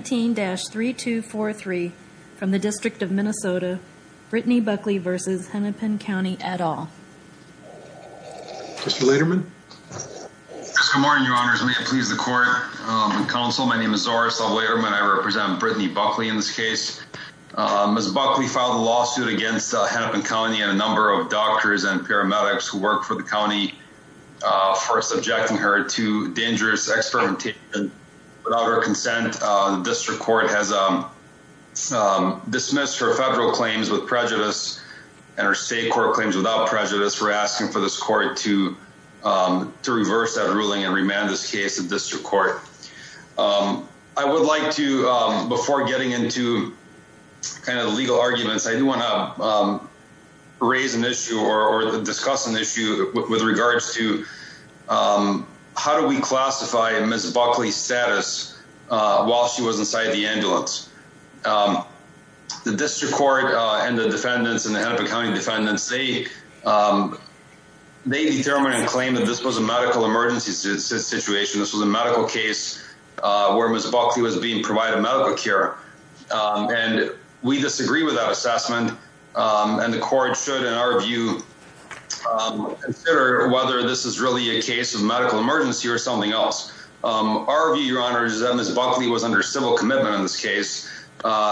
17-3243 from the District of Minnesota, Brittany Buckley v. Hennepin County et al. Mr. Lederman. Mr. Martin, your honors, may it please the court and counsel, my name is Zoris Lederman, I represent Brittany Buckley in this case. Ms. Buckley filed a lawsuit against Hennepin County and a number of doctors and paramedics who work for the county for subjecting her to dangerous experimentation. Without her District Court has dismissed her federal claims with prejudice and her state court claims without prejudice. We're asking for this court to to reverse that ruling and remand this case at District Court. I would like to, before getting into kind of the legal arguments, I do want to raise an issue or discuss an issue with regards to how do we classify Ms. Buckley's status while she was inside the ambulance. The District Court and the defendants and the Hennepin County defendants, they determined and claimed that this was a medical emergency situation. This was a medical case where Ms. Buckley was being provided medical care and we disagree with that assessment and the court should, in our view, consider whether this is really a case of medical emergency or something else. Our view, Your Honor, is that Ms. Buckley was under civil commitment in this case,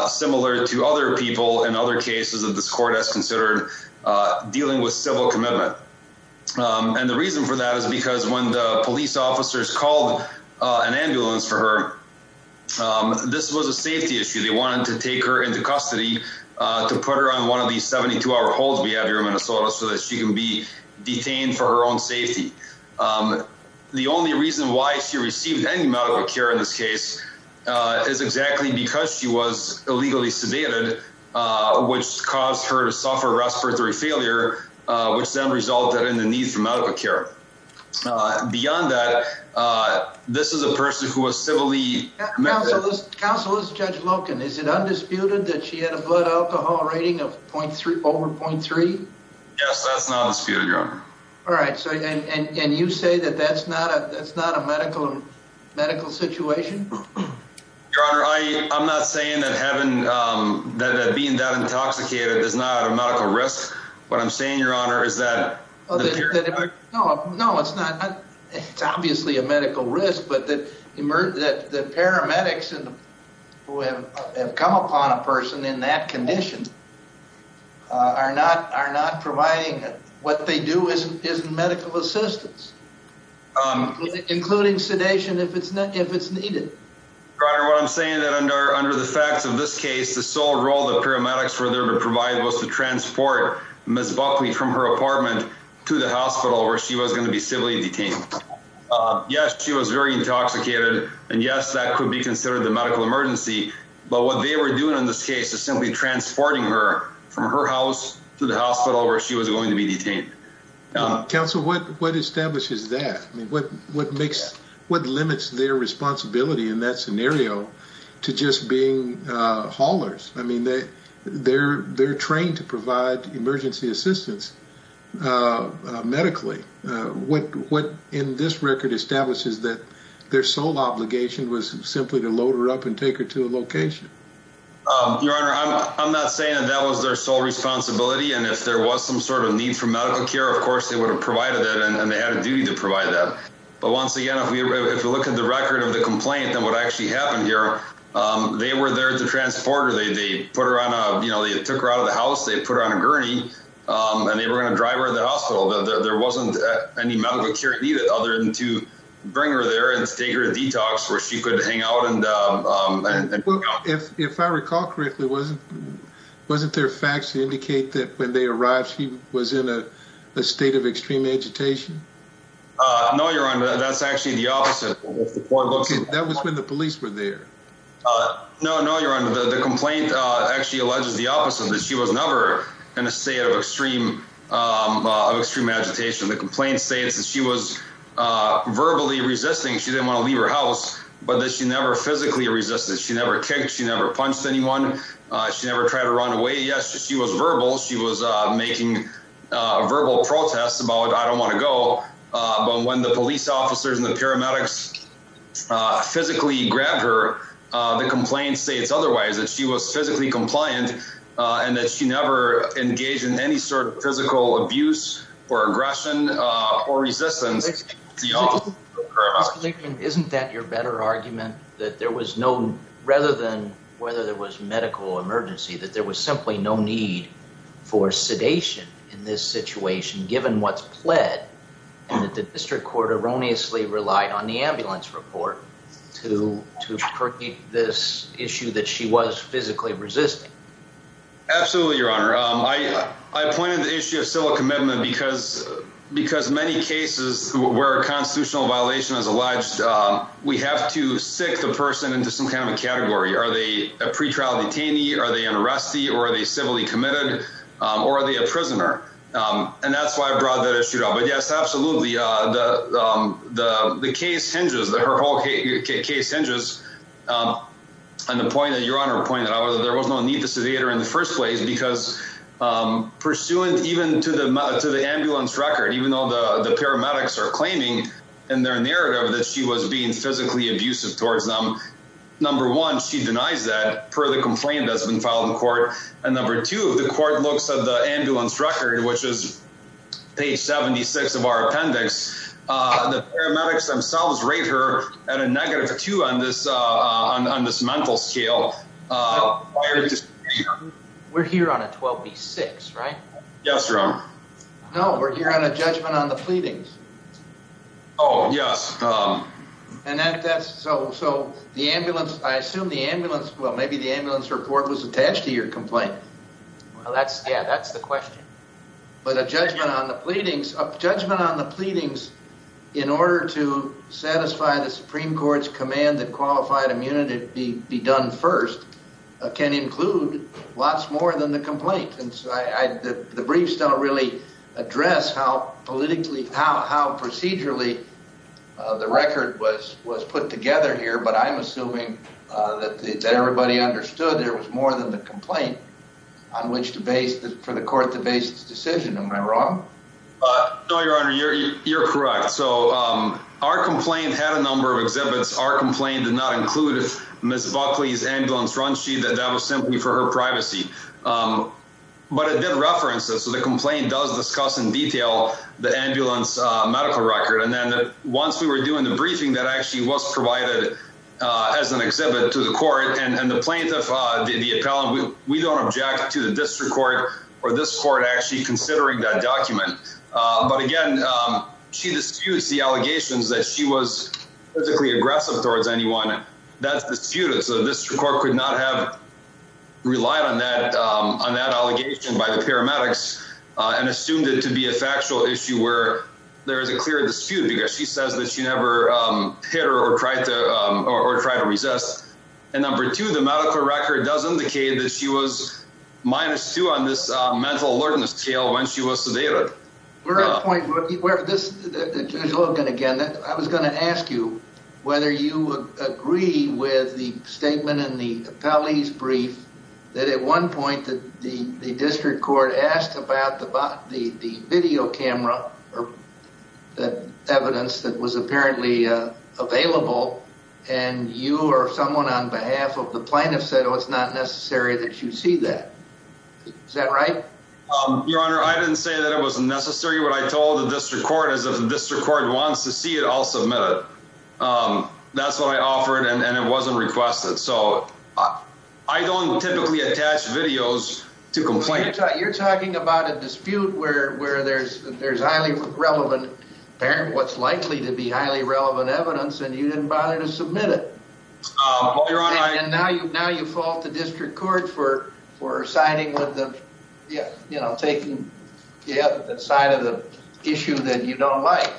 similar to other people in other cases that this court has considered dealing with civil commitment. And the reason for that is because when the police officers called an ambulance for her, this was a safety issue. They wanted to take her into custody to put her on one of these 72-hour holds we have here in Minnesota so that she can be The reason why she received any medical care in this case is exactly because she was illegally sedated, which caused her to suffer respiratory failure, which then resulted in the need for medical care. Beyond that, this is a person who was civilly... Counsel, this is Judge Loken. Is it undisputed that she had a blood alcohol rating of over .3? All right. And you say that that's not a medical situation? Your Honor, I'm not saying that being that intoxicated is not a medical risk. What I'm saying, Your Honor, is that... ...isn't medical assistance, including sedation if it's needed. Your Honor, what I'm saying is that under the facts of this case, the sole role the paramedics were there to provide was to transport Ms. Buckley from her apartment to the hospital where she was going to be civilly detained. Yes, she was very intoxicated. And yes, that could be considered the medical emergency. But what they were doing in this case is simply transporting her from her house to the hospital where she was going to be detained. Counsel, what establishes that? What limits their responsibility in that scenario to just being haulers? I mean, they're trained to provide emergency assistance medically. What in this record establishes that their sole obligation was simply to load her up and take her to a location? Your Honor, I'm not saying that that was their sole responsibility. And if there was some sort of need for medical care, of course, they would have provided that and they had a duty to provide that. But once again, if we look at the record of the complaint and what actually happened here, they were there to transport her. They put her on a you know, they took her out of the house. They put her on a gurney and they were going to drive her to the hospital. There wasn't any medical care needed other than to bring her there and take her to detox where she could hang out. And if I recall correctly, wasn't wasn't there facts to indicate that when they arrived, she was in a state of extreme agitation? No, Your Honor, that's actually the opposite. That was when the police were there. No, no, Your Honor, the complaint actually alleges the opposite, that she was never in a state of extreme extreme agitation. The complaint states that she was verbally resisting. She didn't want to leave her house, but that she never physically resisted. She never kicked. She never punched anyone. She never tried to run away. Yes, she was verbal. She was making a verbal protest about I don't want to go. But when the police officers and the paramedics physically grabbed her, the complaint states otherwise, that she was physically compliant and that she never engaged in any sort of physical abuse or aggression or resistance. Isn't that your better argument that there was no rather than whether there was medical emergency, that there was simply no need for sedation in this situation, given what's pled and that the district court erroneously relied on the ambulance report to to this issue that she was physically resisting? Absolutely, Your Honor. I pointed the issue of civil commitment because because many cases where a constitutional violation is alleged, we have to stick the person into some kind of a category. Are they a pretrial detainee? Are they an arrestee or are they civilly committed or are they a prisoner? And that's why I brought that issue up. But yes, absolutely. The the the case hinges that her whole case hinges on the point that Your Honor pointed out that there was no need to sedate her in the first place because pursuant even to the to the ambulance record, even though the paramedics are claiming in their narrative that she was being physically abusive towards them. Number one, she denies that per the complaint that's been filed in court. And number two, the court looks at the ambulance record, which is page 76 of our appendix. The paramedics themselves rate her at a negative two on this on this mental scale. We're here on a 12B6, right? Yes, Your Honor. No, we're here on a judgment on the pleadings. Oh, yes. And that that's so so the ambulance. I assume the ambulance. Well, maybe the ambulance report was attached to your complaint. That's yeah, that's the question. But a judgment on the pleadings of judgment on the pleadings in order to satisfy the Supreme Court's command that qualified immunity be done first can include lots more than the complaint. The briefs don't really address how politically, how procedurally the record was was put together here. But I'm assuming that everybody understood there was more than the complaint on which to base for the court to base its decision. Am I wrong? No, Your Honor. You're correct. So our complaint had a number of exhibits. Our complaint did not include Miss Buckley's ambulance run. She that that was simply for her privacy. But it did reference it. So the complaint does discuss in detail the ambulance medical record. And then once we were doing the briefing that actually was provided as an exhibit to the court and the plaintiff, the appellant, we don't object to the district court or this court actually considering that document. But again, she disputes the allegations that she was physically aggressive towards anyone. That's disputed. So this court could not have relied on that on that allegation by the paramedics and assumed it to be a factual issue where there is a clear dispute because she says that she never hit her or tried to resist. And number two, the medical record does indicate that she was minus two on this mental alertness scale when she was sedated. We're at a point where this, Judge Logan, again, I was going to ask you whether you agree with the statement in the appellee's brief that at one point that the district court asked about the video camera or the evidence that was apparently available. And you or someone on behalf of the plaintiff said, oh, it's not necessary that you see that. Is that right? Your Honor, I didn't say that it wasn't necessary. What I told the district court is if the district court wants to see it, I'll submit it. That's what I offered. And it wasn't requested. So I don't typically attach videos to complain. You're talking about a dispute where where there's there's highly relevant apparent what's likely to be highly relevant evidence. And you didn't bother to submit it. And now you now you fault the district court for for signing with the, you know, taking the side of the issue that you don't like.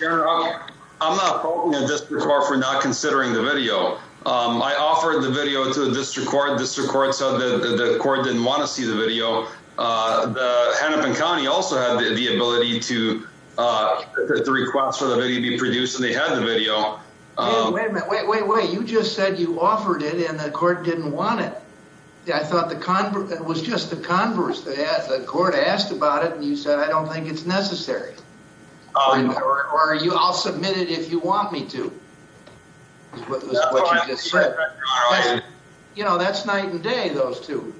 Your Honor, I'm not faulting the district court for not considering the video. I offered the video to the district court. District court said the court didn't want to see the video. The Hennepin County also had the ability to request for the video to be produced. And they had the video. Wait, wait, wait. You just said you offered it and the court didn't want it. I thought the converse was just the converse. The court asked about it. And you said, I don't think it's necessary. Are you? I'll submit it if you want me to. You know, that's night and day. Those two.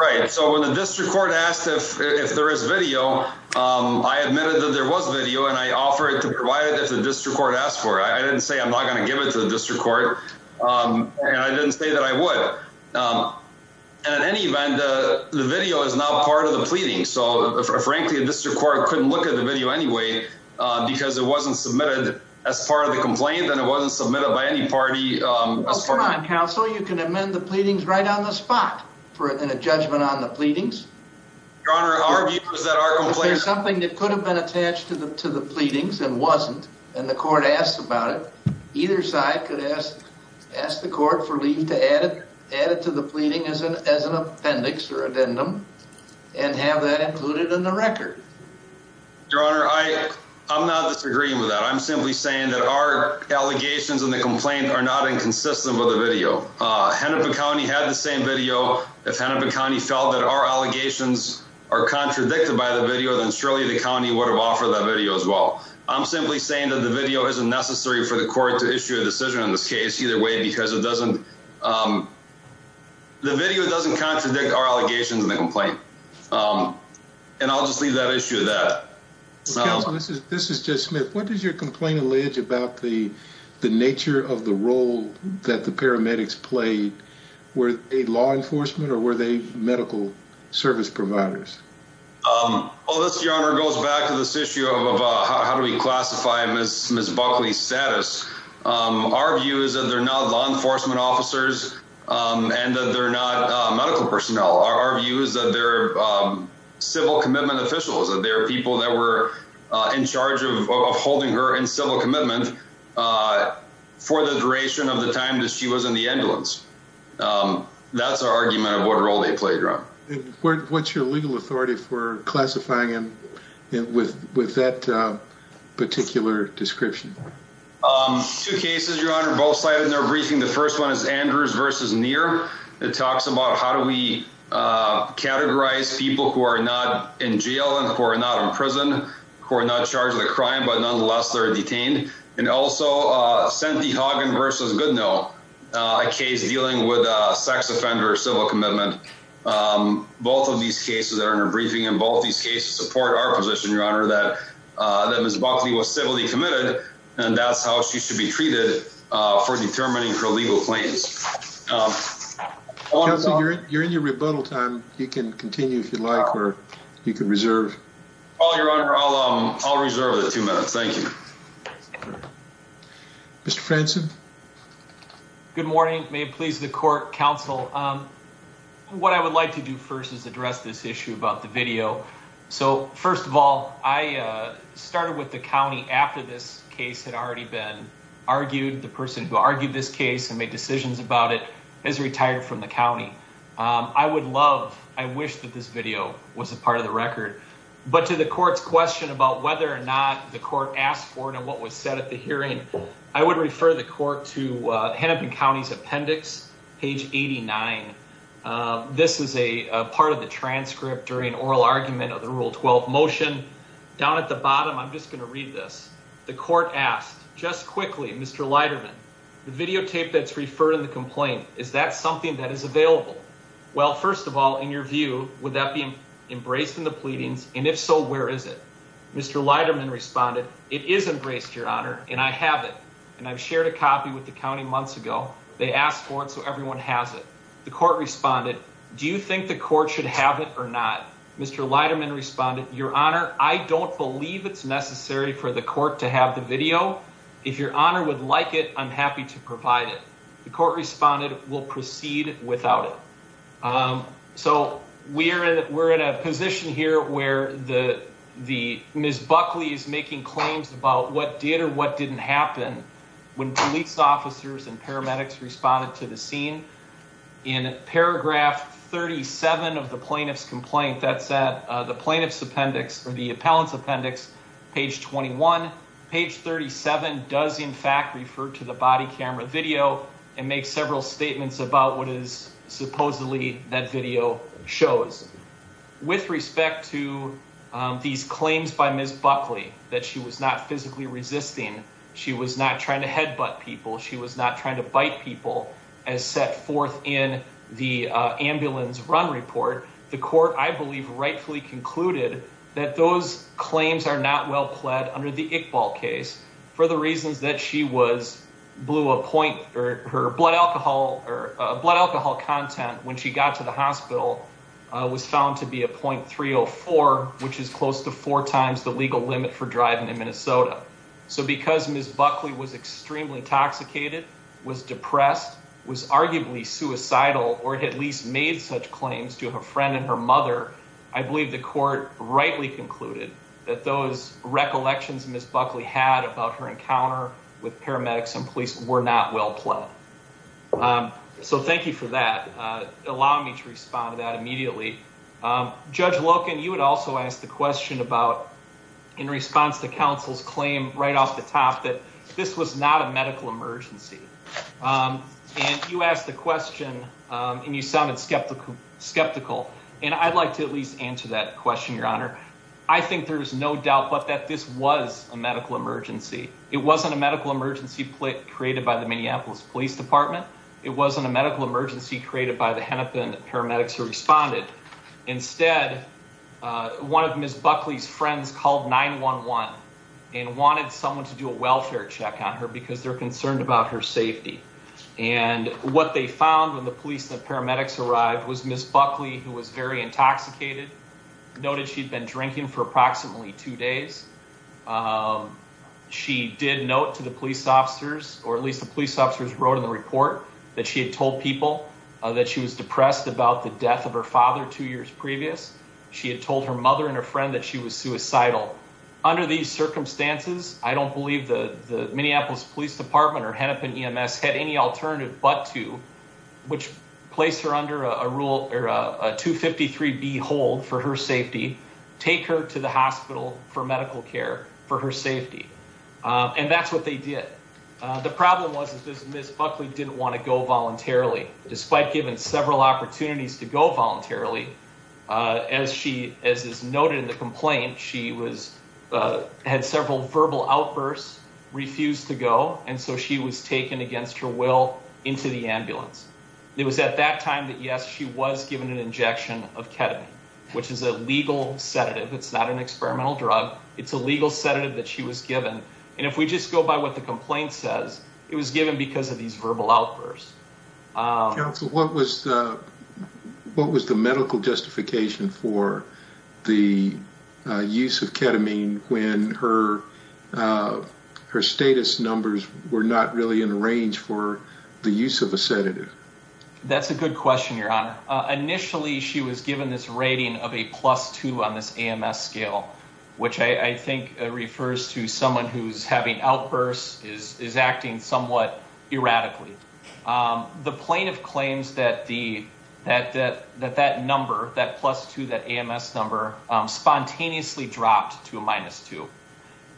Right. So when the district court asked if there is video, I admitted that there was video. And I offer it to provide it to the district court asked for. I didn't say I'm not going to give it to the district court. And I didn't say that I would. And at any event, the video is now part of the pleading. So, frankly, the district court couldn't look at the video anyway, because it wasn't submitted as part of the complaint. And it wasn't submitted by any party. Counsel, you can amend the pleadings right on the spot for a judgment on the pleadings. Something that could have been attached to the to the pleadings and wasn't. And the court asked about it. Either side could ask, ask the court for leave to add it, add it to the pleading as an appendix or addendum and have that included in the record. Your Honor, I, I'm not disagreeing with that. I'm simply saying that our allegations and the complaint are not inconsistent with the video. Hennepin County had the same video. If Hennepin County felt that our allegations are contradicted by the video, then surely the county would have offered that video as well. I'm simply saying that the video isn't necessary for the court to issue a decision in this case. Either way, because it doesn't. The video doesn't contradict our allegations in the complaint. And I'll just leave that issue that. This is just Smith. What is your complaint allege about the the nature of the role that the paramedics played with a law enforcement or were they medical service providers? Oh, this, Your Honor, goes back to this issue of how do we classify Miss Buckley status? Our view is that they're not law enforcement officers and that they're not medical personnel. Our view is that they're civil commitment officials. There are people that were in charge of holding her in civil commitment for the duration of the time that she was in the ambulance. That's our argument of what role they played. What's your legal authority for classifying him with with that particular description? Two cases, Your Honor. Both sides in their briefing. The first one is Andrews versus near. It talks about how do we categorize people who are not in jail and who are not in prison, who are not charged with a crime, but nonetheless, they're detained. And also sent the hogging versus good. No case dealing with a sex offender. Civil commitment. Both of these cases are in a briefing and both these cases support our position, Your Honor, that that Miss Buckley was civilly committed. And that's how she should be treated for determining her legal claims. You're in your rebuttal time. You can continue if you like, or you can reserve all your honor. I'll I'll reserve the two minutes. Thank you. Mr. Franson. Good morning. May it please the court. Counsel. What I would like to do first is address this issue about the video. So, first of all, I started with the county after this case had already been argued. The person who argued this case and made decisions about it is retired from the county. I would love. I wish that this video was a part of the record. But to the court's question about whether or not the court asked for it and what was said at the hearing, I would refer the court to Hennepin County's appendix. Page 89. This is a part of the transcript during oral argument of the Rule 12 motion. Down at the bottom. I'm just going to read this. The court asked just quickly, Mr. Leiterman, the videotape that's referred in the complaint. Is that something that is available? Well, first of all, in your view, would that be embraced in the pleadings? And if so, where is it? Mr. Leiterman responded. It is embraced, Your Honor. And I have it. And I've shared a copy with the county months ago. They asked for it. So everyone has it. The court responded. Do you think the court should have it or not? Mr. Leiterman responded. Your Honor. I don't believe it's necessary for the court to have the video. If Your Honor would like it, I'm happy to provide it. The court responded. We'll proceed without it. So we are in, we're in a position here where the, the Ms. Buckley is making claims about what did or what didn't happen when police officers and paramedics responded to the scene in paragraph 37 of the plaintiff's complaint. That said the plaintiff's appendix or the appellant's appendix, page 21, page 37 does in fact, refer to the body camera video and make several statements about what is supposedly that video shows with respect to these claims by Ms. Buckley, that she was not physically resisting. She was not trying to head butt people. She was not trying to bite people as set forth in the ambulance run report. The court, I believe rightfully concluded that those claims are not well pled under the Iqbal case for the reasons that she was blew a point or her blood alcohol or blood alcohol content when she got to the hospital was found to be a 0.304, which is close to four times the legal limit for driving in Minnesota. So because Ms. Buckley was extremely intoxicated, was depressed, was arguably suicidal, or at least made such claims to her friend and her mother. I believe the court rightly concluded that those recollections Ms. Buckley had about her encounter with paramedics and police were not well pled. So thank you for that. Allow me to respond to that immediately. Judge Loken, you had also asked the question about in response to counsel's claim right off the top that this was not a medical emergency. And you asked the question and you sounded skeptical. And I'd like to at least answer that question, Your Honor. I think there is no doubt that this was a medical emergency. It wasn't a medical emergency created by the Minneapolis Police Department. It wasn't a medical emergency created by the Hennepin paramedics who responded. Instead, one of Ms. Buckley's friends called 911 and wanted someone to do a welfare check on her because they're concerned about her safety. And what they found when the police and paramedics arrived was Ms. Buckley, who was very intoxicated, noted she'd been drinking for approximately two days. She did note to the police officers, or at least the police officers wrote in the report, that she had told people that she was depressed about the death of her father two years previous. She had told her mother and her friend that she was suicidal. Under these circumstances, I don't believe the Minneapolis Police Department or Hennepin EMS had any alternative but to, which placed her under a 253B hold for her safety, take her to the hospital for medical care for her safety. And that's what they did. The problem was Ms. Buckley didn't want to go voluntarily. Despite given several opportunities to go voluntarily, as is noted in the complaint, she had several verbal outbursts, refused to go, and so she was taken against her will into the ambulance. It was at that time that, yes, she was given an injection of ketamine, which is a legal sedative. It's not an experimental drug. It's a legal sedative that she was given. And if we just go by what the complaint says, it was given because of these verbal outbursts. Counsel, what was the medical justification for the use of ketamine when her status numbers were not really in range for the use of a sedative? That's a good question, Your Honor. Initially she was given this rating of a plus 2 on this AMS scale, which I think refers to someone who's having outbursts, is acting somewhat erratically. The plaintiff claims that that number, that plus 2, that AMS number, spontaneously dropped to a minus 2.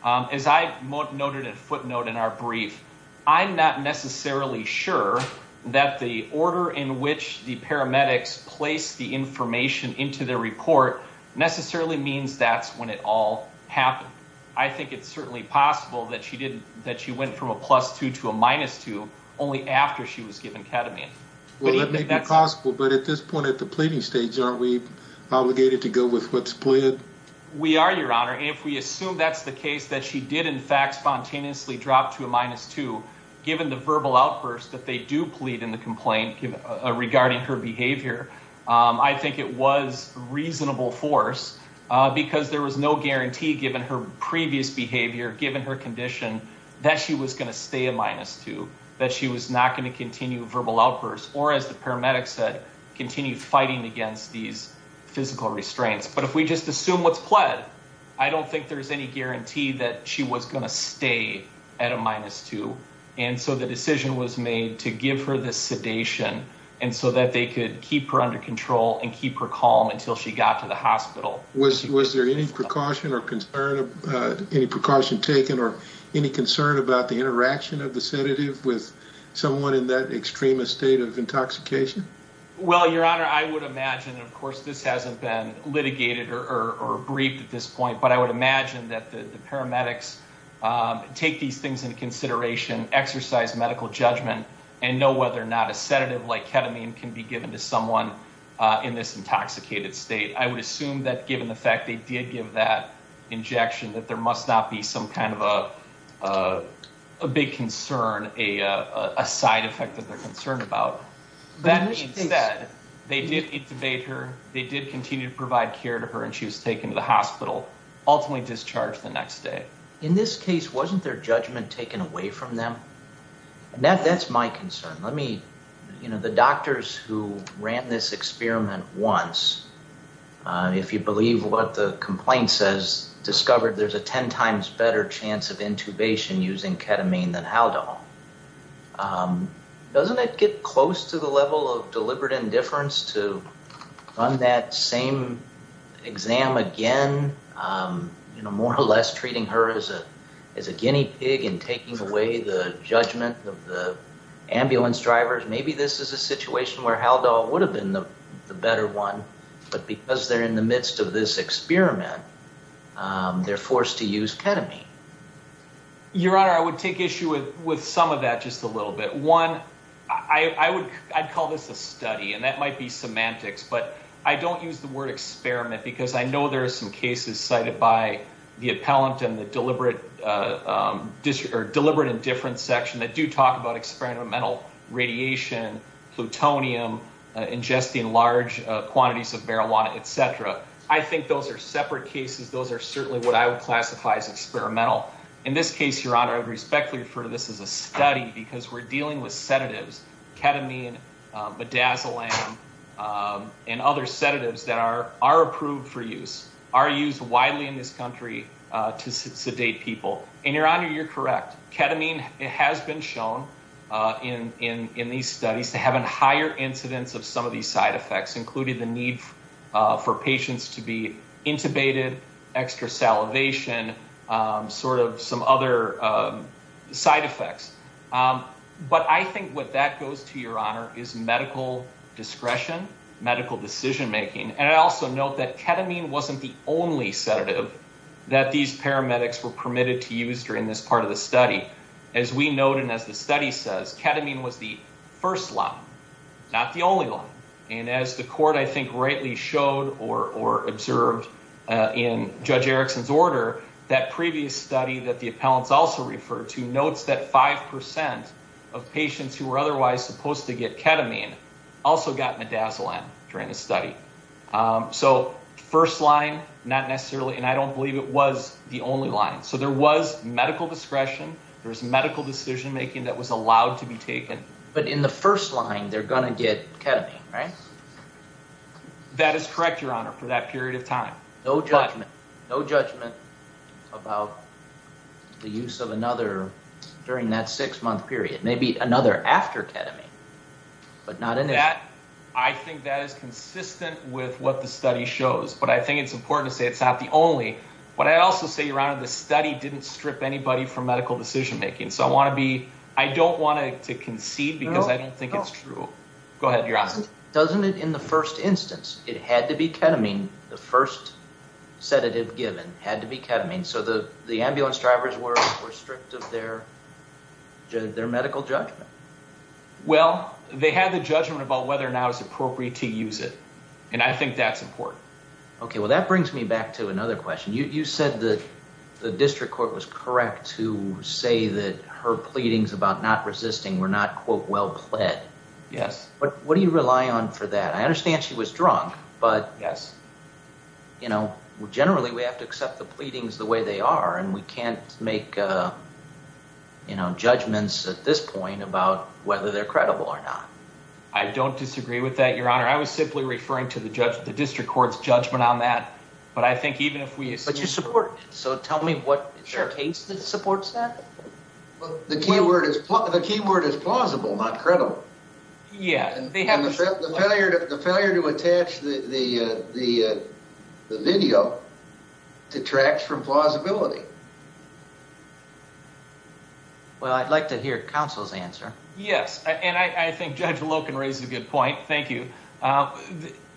As I noted at footnote in our brief, I'm not necessarily sure that the paramedics placed the information into their report necessarily means that's when it all happened. I think it's certainly possible that she went from a plus 2 to a minus 2 only after she was given ketamine. Well, that may be possible, but at this point at the pleading stage, aren't we obligated to go with what's pleaded? We are, Your Honor. If we assume that's the case, that she did, in fact, spontaneously drop to a minus 2, given the verbal outburst that they do plead in the complaint regarding her behavior, I think it was reasonable force because there was no guarantee given her previous behavior, given her condition, that she was going to stay a minus 2, that she was not going to continue verbal outbursts or, as the paramedics said, continue fighting against these physical restraints. But if we just assume what's pled, I don't think there's any guarantee that she was going to stay at a minus 2. And so the decision was made to give her the sedation so that they could keep her under control and keep her calm until she got to the hospital. Was there any precaution taken or any concern about the interaction of the sedative with someone in that extremist state of intoxication? Well, Your Honor, I would imagine, and of course this hasn't been litigated or briefed at this point, but I would imagine that the paramedics take these things into consideration, exercise medical judgment, and know whether or not a sedative like ketamine can be given to someone in this intoxicated state. I would assume that given the fact they did give that injection that there must not be some kind of a big concern, a side effect that they're concerned about. Then instead, they did intubate her, they did continue to provide care to her, and she was taken to the hospital, ultimately discharged the next day. In this case, wasn't their judgment taken away from them? That's my concern. The doctors who ran this experiment once, if you believe what the complaint says, discovered there's a 10 times better chance of intubation using ketamine than Haldol. Doesn't it get close to the level of deliberate indifference to run that same exam again, more or less treating her as a guinea pig and taking away the judgment of the ambulance drivers? Maybe this is a situation where Haldol would have been the better one, but because they're in the midst of this experiment, they're forced to use ketamine. Your Honor, I would take issue with some of that just a little bit. One, I'd call this a study, and that might be semantics, but I don't use the word experiment because I know there are some cases cited by the appellant and the deliberate indifference section that do talk about experimental radiation, plutonium, ingesting large quantities of marijuana, et cetera. I think those are separate cases. Those are certainly what I would classify as experimental. In this case, Your Honor, I would respectfully refer to this as a study because we're dealing with sedatives, ketamine, midazolam, and other sedatives that are approved for use, are used widely in this country to sedate people. And Your Honor, you're correct. Ketamine has been shown in these studies to have a higher incidence of some of these side effects, including the need for patients to be intubated, extra salivation, sort of some other side effects. But I think what that goes to, Your Honor, is medical discretion, medical decision-making, and I also note that ketamine wasn't the only sedative that these paramedics were permitted to use during this part of the study. As we note and as the study says, ketamine was the first line, not the only line. And as the court, I think, rightly showed or observed in Judge Erickson's order, that previous study that the appellants also referred to notes that 5% of So first line, not necessarily, and I don't believe it was the only line. So there was medical discretion. There was medical decision-making that was allowed to be taken. But in the first line, they're going to get ketamine, right? That is correct, Your Honor, for that period of time. No judgment, no judgment about the use of another during that six-month period, maybe another after ketamine, but not initially. I think that is consistent with what the study shows. But I think it's important to say it's not the only. But I also say, Your Honor, the study didn't strip anybody from medical decision-making. So I don't want to concede because I don't think it's true. Go ahead, Your Honor. Doesn't it, in the first instance, it had to be ketamine, the first sedative given had to be ketamine, so the ambulance drivers were strict of their medical judgment? Well, they had the judgment about whether or not it was appropriate to use it, and I think that's important. Okay, well, that brings me back to another question. You said the district court was correct to say that her pleadings about not resisting were not, quote, well pled. Yes. What do you rely on for that? I understand she was drunk, but generally we have to accept the pleadings the way they are, and we can't make judgments at this point about whether they're credible or not. I don't disagree with that, Your Honor. I was simply referring to the district court's judgment on that. But I think even if we assume— But you support it. So tell me what case supports that. Well, the key word is plausible, not credible. Yeah. And the failure to attach the video to tracks from plausibility. Well, I'd like to hear counsel's answer. Yes, and I think Judge Lowe can raise a good point. Thank you.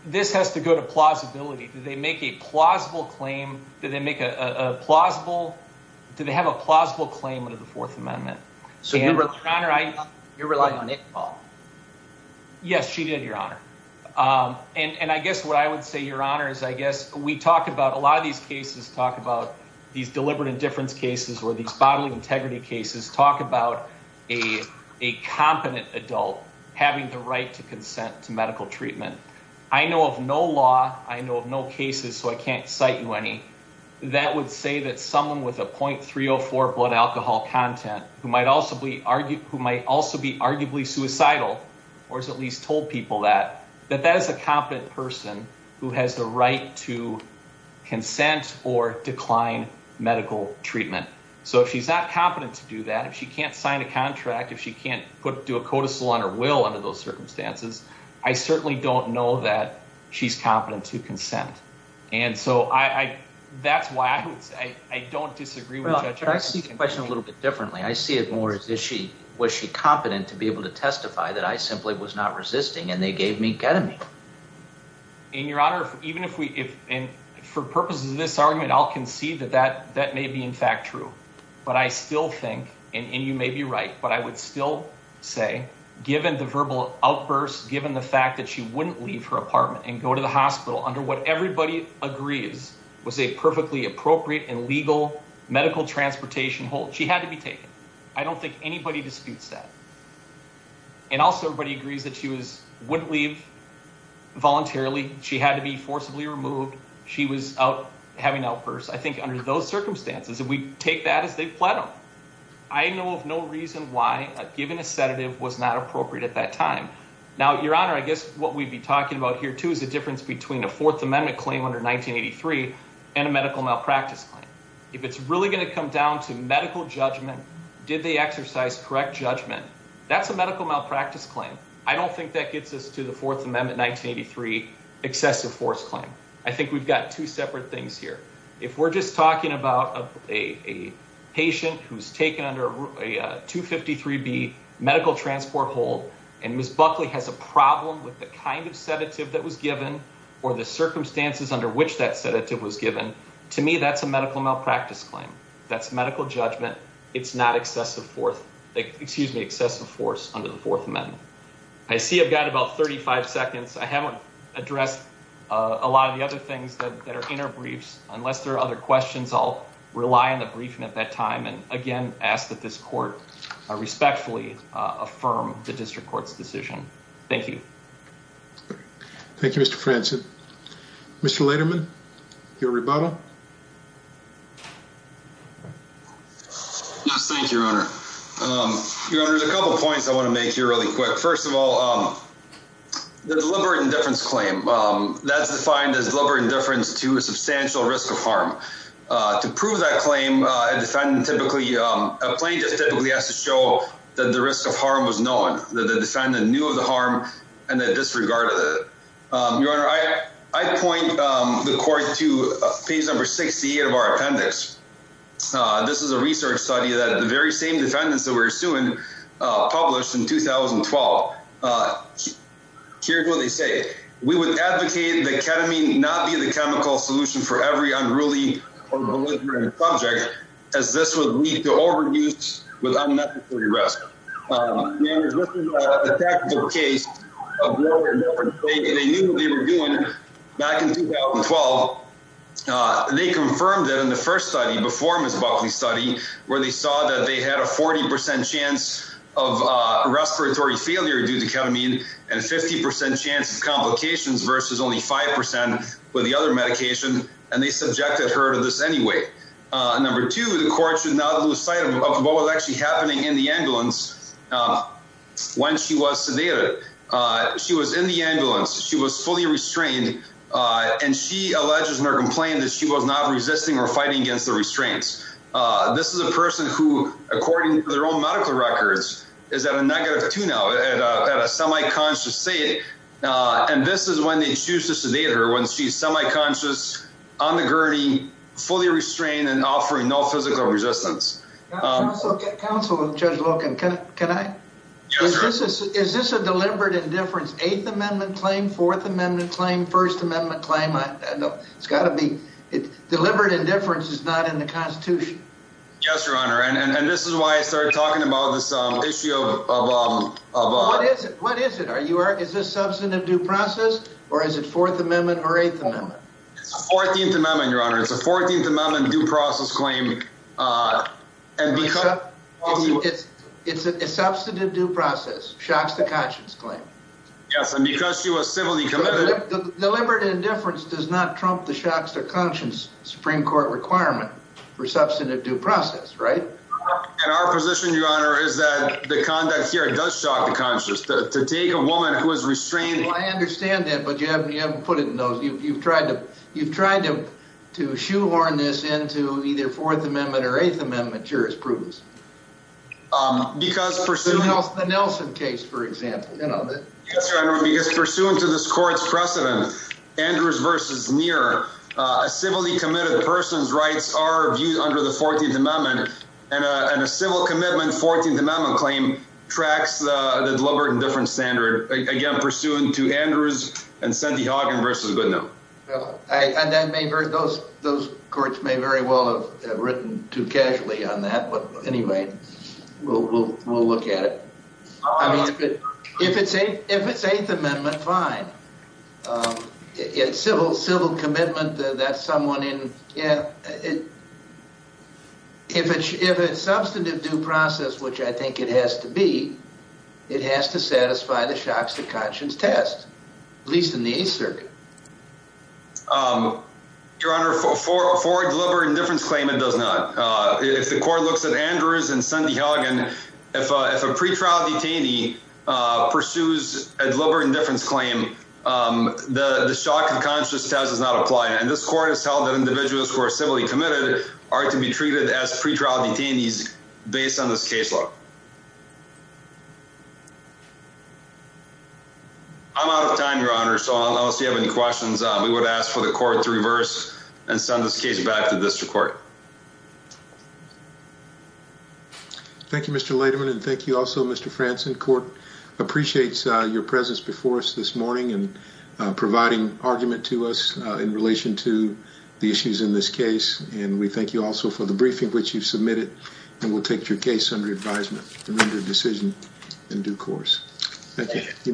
This has to go to plausibility. Do they make a plausible claim? Do they make a plausible—do they have a plausible claim under the Fourth Amendment? Your Honor, I— You're relying on it, Paul. Yes, she did, Your Honor. And I guess what I would say, Your Honor, is I guess we talk about—a lot of these cases talk about these deliberate indifference cases or these bodily integrity cases talk about a competent adult having the right to consent to medical treatment. I know of no law, I know of no cases, so I can't cite you any, that would say that someone with a .304 blood alcohol content who might also be arguably suicidal or has at least told people that, that that is a competent person who has the right to consent or decline medical treatment. So if she's not competent to do that, if she can't sign a contract, if she can't do a codicil on her will under those circumstances, I certainly don't know that she's competent to consent. And so I—that's why I would say I don't disagree with— Well, I see the question a little bit differently. I see it more as, is she—was she competent to be able to testify that I simply was not resisting and they gave me ketamine? And, Your Honor, even if we—and for purposes of this argument, I'll concede that that may be, in fact, true. But I still think, and you may be right, but I would still say, given the verbal outburst, given the fact that she wouldn't leave her apartment and go to the hospital under what everybody agrees was a perfectly appropriate and legal medical transportation hold, she had to be taken. I don't think anybody disputes that. And also everybody agrees that she was—wouldn't leave voluntarily. She had to be forcibly removed. She was out having outbursts. I think under those circumstances, if we take that as they've pled them, I know of no reason why giving a sedative was not appropriate at that time. Now, Your Honor, I guess what we'd be talking about here, too, is the difference between a Fourth Amendment claim under 1983 and a medical malpractice claim. If it's really going to come down to medical judgment, did they exercise correct judgment, that's a medical malpractice claim. I don't think that gets us to the Fourth Amendment 1983 excessive force claim. I think we've got two separate things here. If we're just talking about a patient who's taken under a 253B medical transport hold and Ms. Buckley has a problem with the kind of sedative that was given or the circumstances under which that sedative was given, to me that's a medical malpractice claim. That's medical judgment. It's not excessive force under the Fourth Amendment. I see I've got about 35 seconds. I haven't addressed a lot of the other things that are in our briefs. Unless there are other questions, I'll rely on the briefing at that time and, again, ask that this court respectfully affirm the district court's decision. Thank you. Thank you, Mr. Franzen. Mr. Lederman, your rebuttal. Thank you, Your Honor. Your Honor, there's a couple points I want to make here really quick. First of all, the deliberate indifference claim, that's defined as deliberate indifference to a substantial risk of harm. To prove that claim, a plaintiff typically has to show that the risk of harm was known, that the defendant knew of the harm and that disregarded it. Your Honor, I point the court to page number 68 of our appendix. This is a research study that the very same defendants that we're suing published in 2012. Here's what they say. We would advocate that ketamine not be the chemical solution for every unruly or malignant subject, as this would lead to overuse with unnecessary risk. Your Honor, this is a tactical case of deliberate indifference. They knew what they were doing back in 2012. They confirmed that in the first study, before Ms. Buckley's study, where they saw that they had a 40% chance of respiratory failure due to ketamine and a 50% chance of complications versus only 5% with the other medication, and they subjected her to this anyway. Number two, the court should not lose sight of what was actually happening in the ambulance when she was sedated. She was in the ambulance. She was fully restrained. And she alleges in her complaint that she was not resisting or fighting against the restraints. This is a person who, according to their own medical records, is at a negative 2 now, at a semi-conscious state. And this is when they choose to sedate her, when she's semi-conscious, on the gurney, fully restrained, and offering no physical resistance. Counsel, Judge Logan, can I? Yes, Your Honor. Is this a deliberate indifference? It's an 8th Amendment claim, 4th Amendment claim, 1st Amendment claim. It's got to be. Deliberate indifference is not in the Constitution. Yes, Your Honor, and this is why I started talking about this issue of... What is it? Is this substantive due process, or is it 4th Amendment or 8th Amendment? It's the 14th Amendment, Your Honor. It's a 14th Amendment due process claim. Lisa, it's a substantive due process, shocks to conscience claim. Yes, and because she was civilly committed... Deliberate indifference does not trump the shocks to conscience Supreme Court requirement for substantive due process, right? And our position, Your Honor, is that the conduct here does shock the conscience. To take a woman who is restraining... Well, I understand that, but you haven't put it in those. You've tried to shoehorn this into either 4th Amendment or 8th Amendment jurisprudence. The Nelson case, for example. Yes, Your Honor, because pursuant to this court's precedent, Andrews versus Muir, a civilly committed person's rights are viewed under the 14th Amendment, and a civil commitment 14th Amendment claim tracks the deliberate indifference standard. Again, pursuant to Andrews and Cindy Hawkins versus Goodenow. Those courts may very well have written too casually on that, but anyway, we'll look at it. If it's 8th Amendment, fine. It's civil commitment that someone in... If it's substantive due process, which I think it has to be, it has to satisfy the shocks to conscience test, at least in the 8th Circuit. Your Honor, for deliberate indifference claim, it does not. If the court looks at Andrews and Cindy Hawkins, if a pretrial detainee pursues a deliberate indifference claim, the shock to conscience test does not apply. And this court has held that individuals who are civilly committed are to be treated as pretrial detainees based on this case law. I'm out of time, Your Honor, so unless you have any questions, we would ask for the court to reverse and send this case back to district court. Thank you, Mr. Lederman, and thank you also, Mr. Franson. Court appreciates your presence before us this morning and providing argument to us in relation to the issues in this case. And we thank you also for the briefing which you submitted, and we'll take your case under advisement and render a decision in due course. Thank you.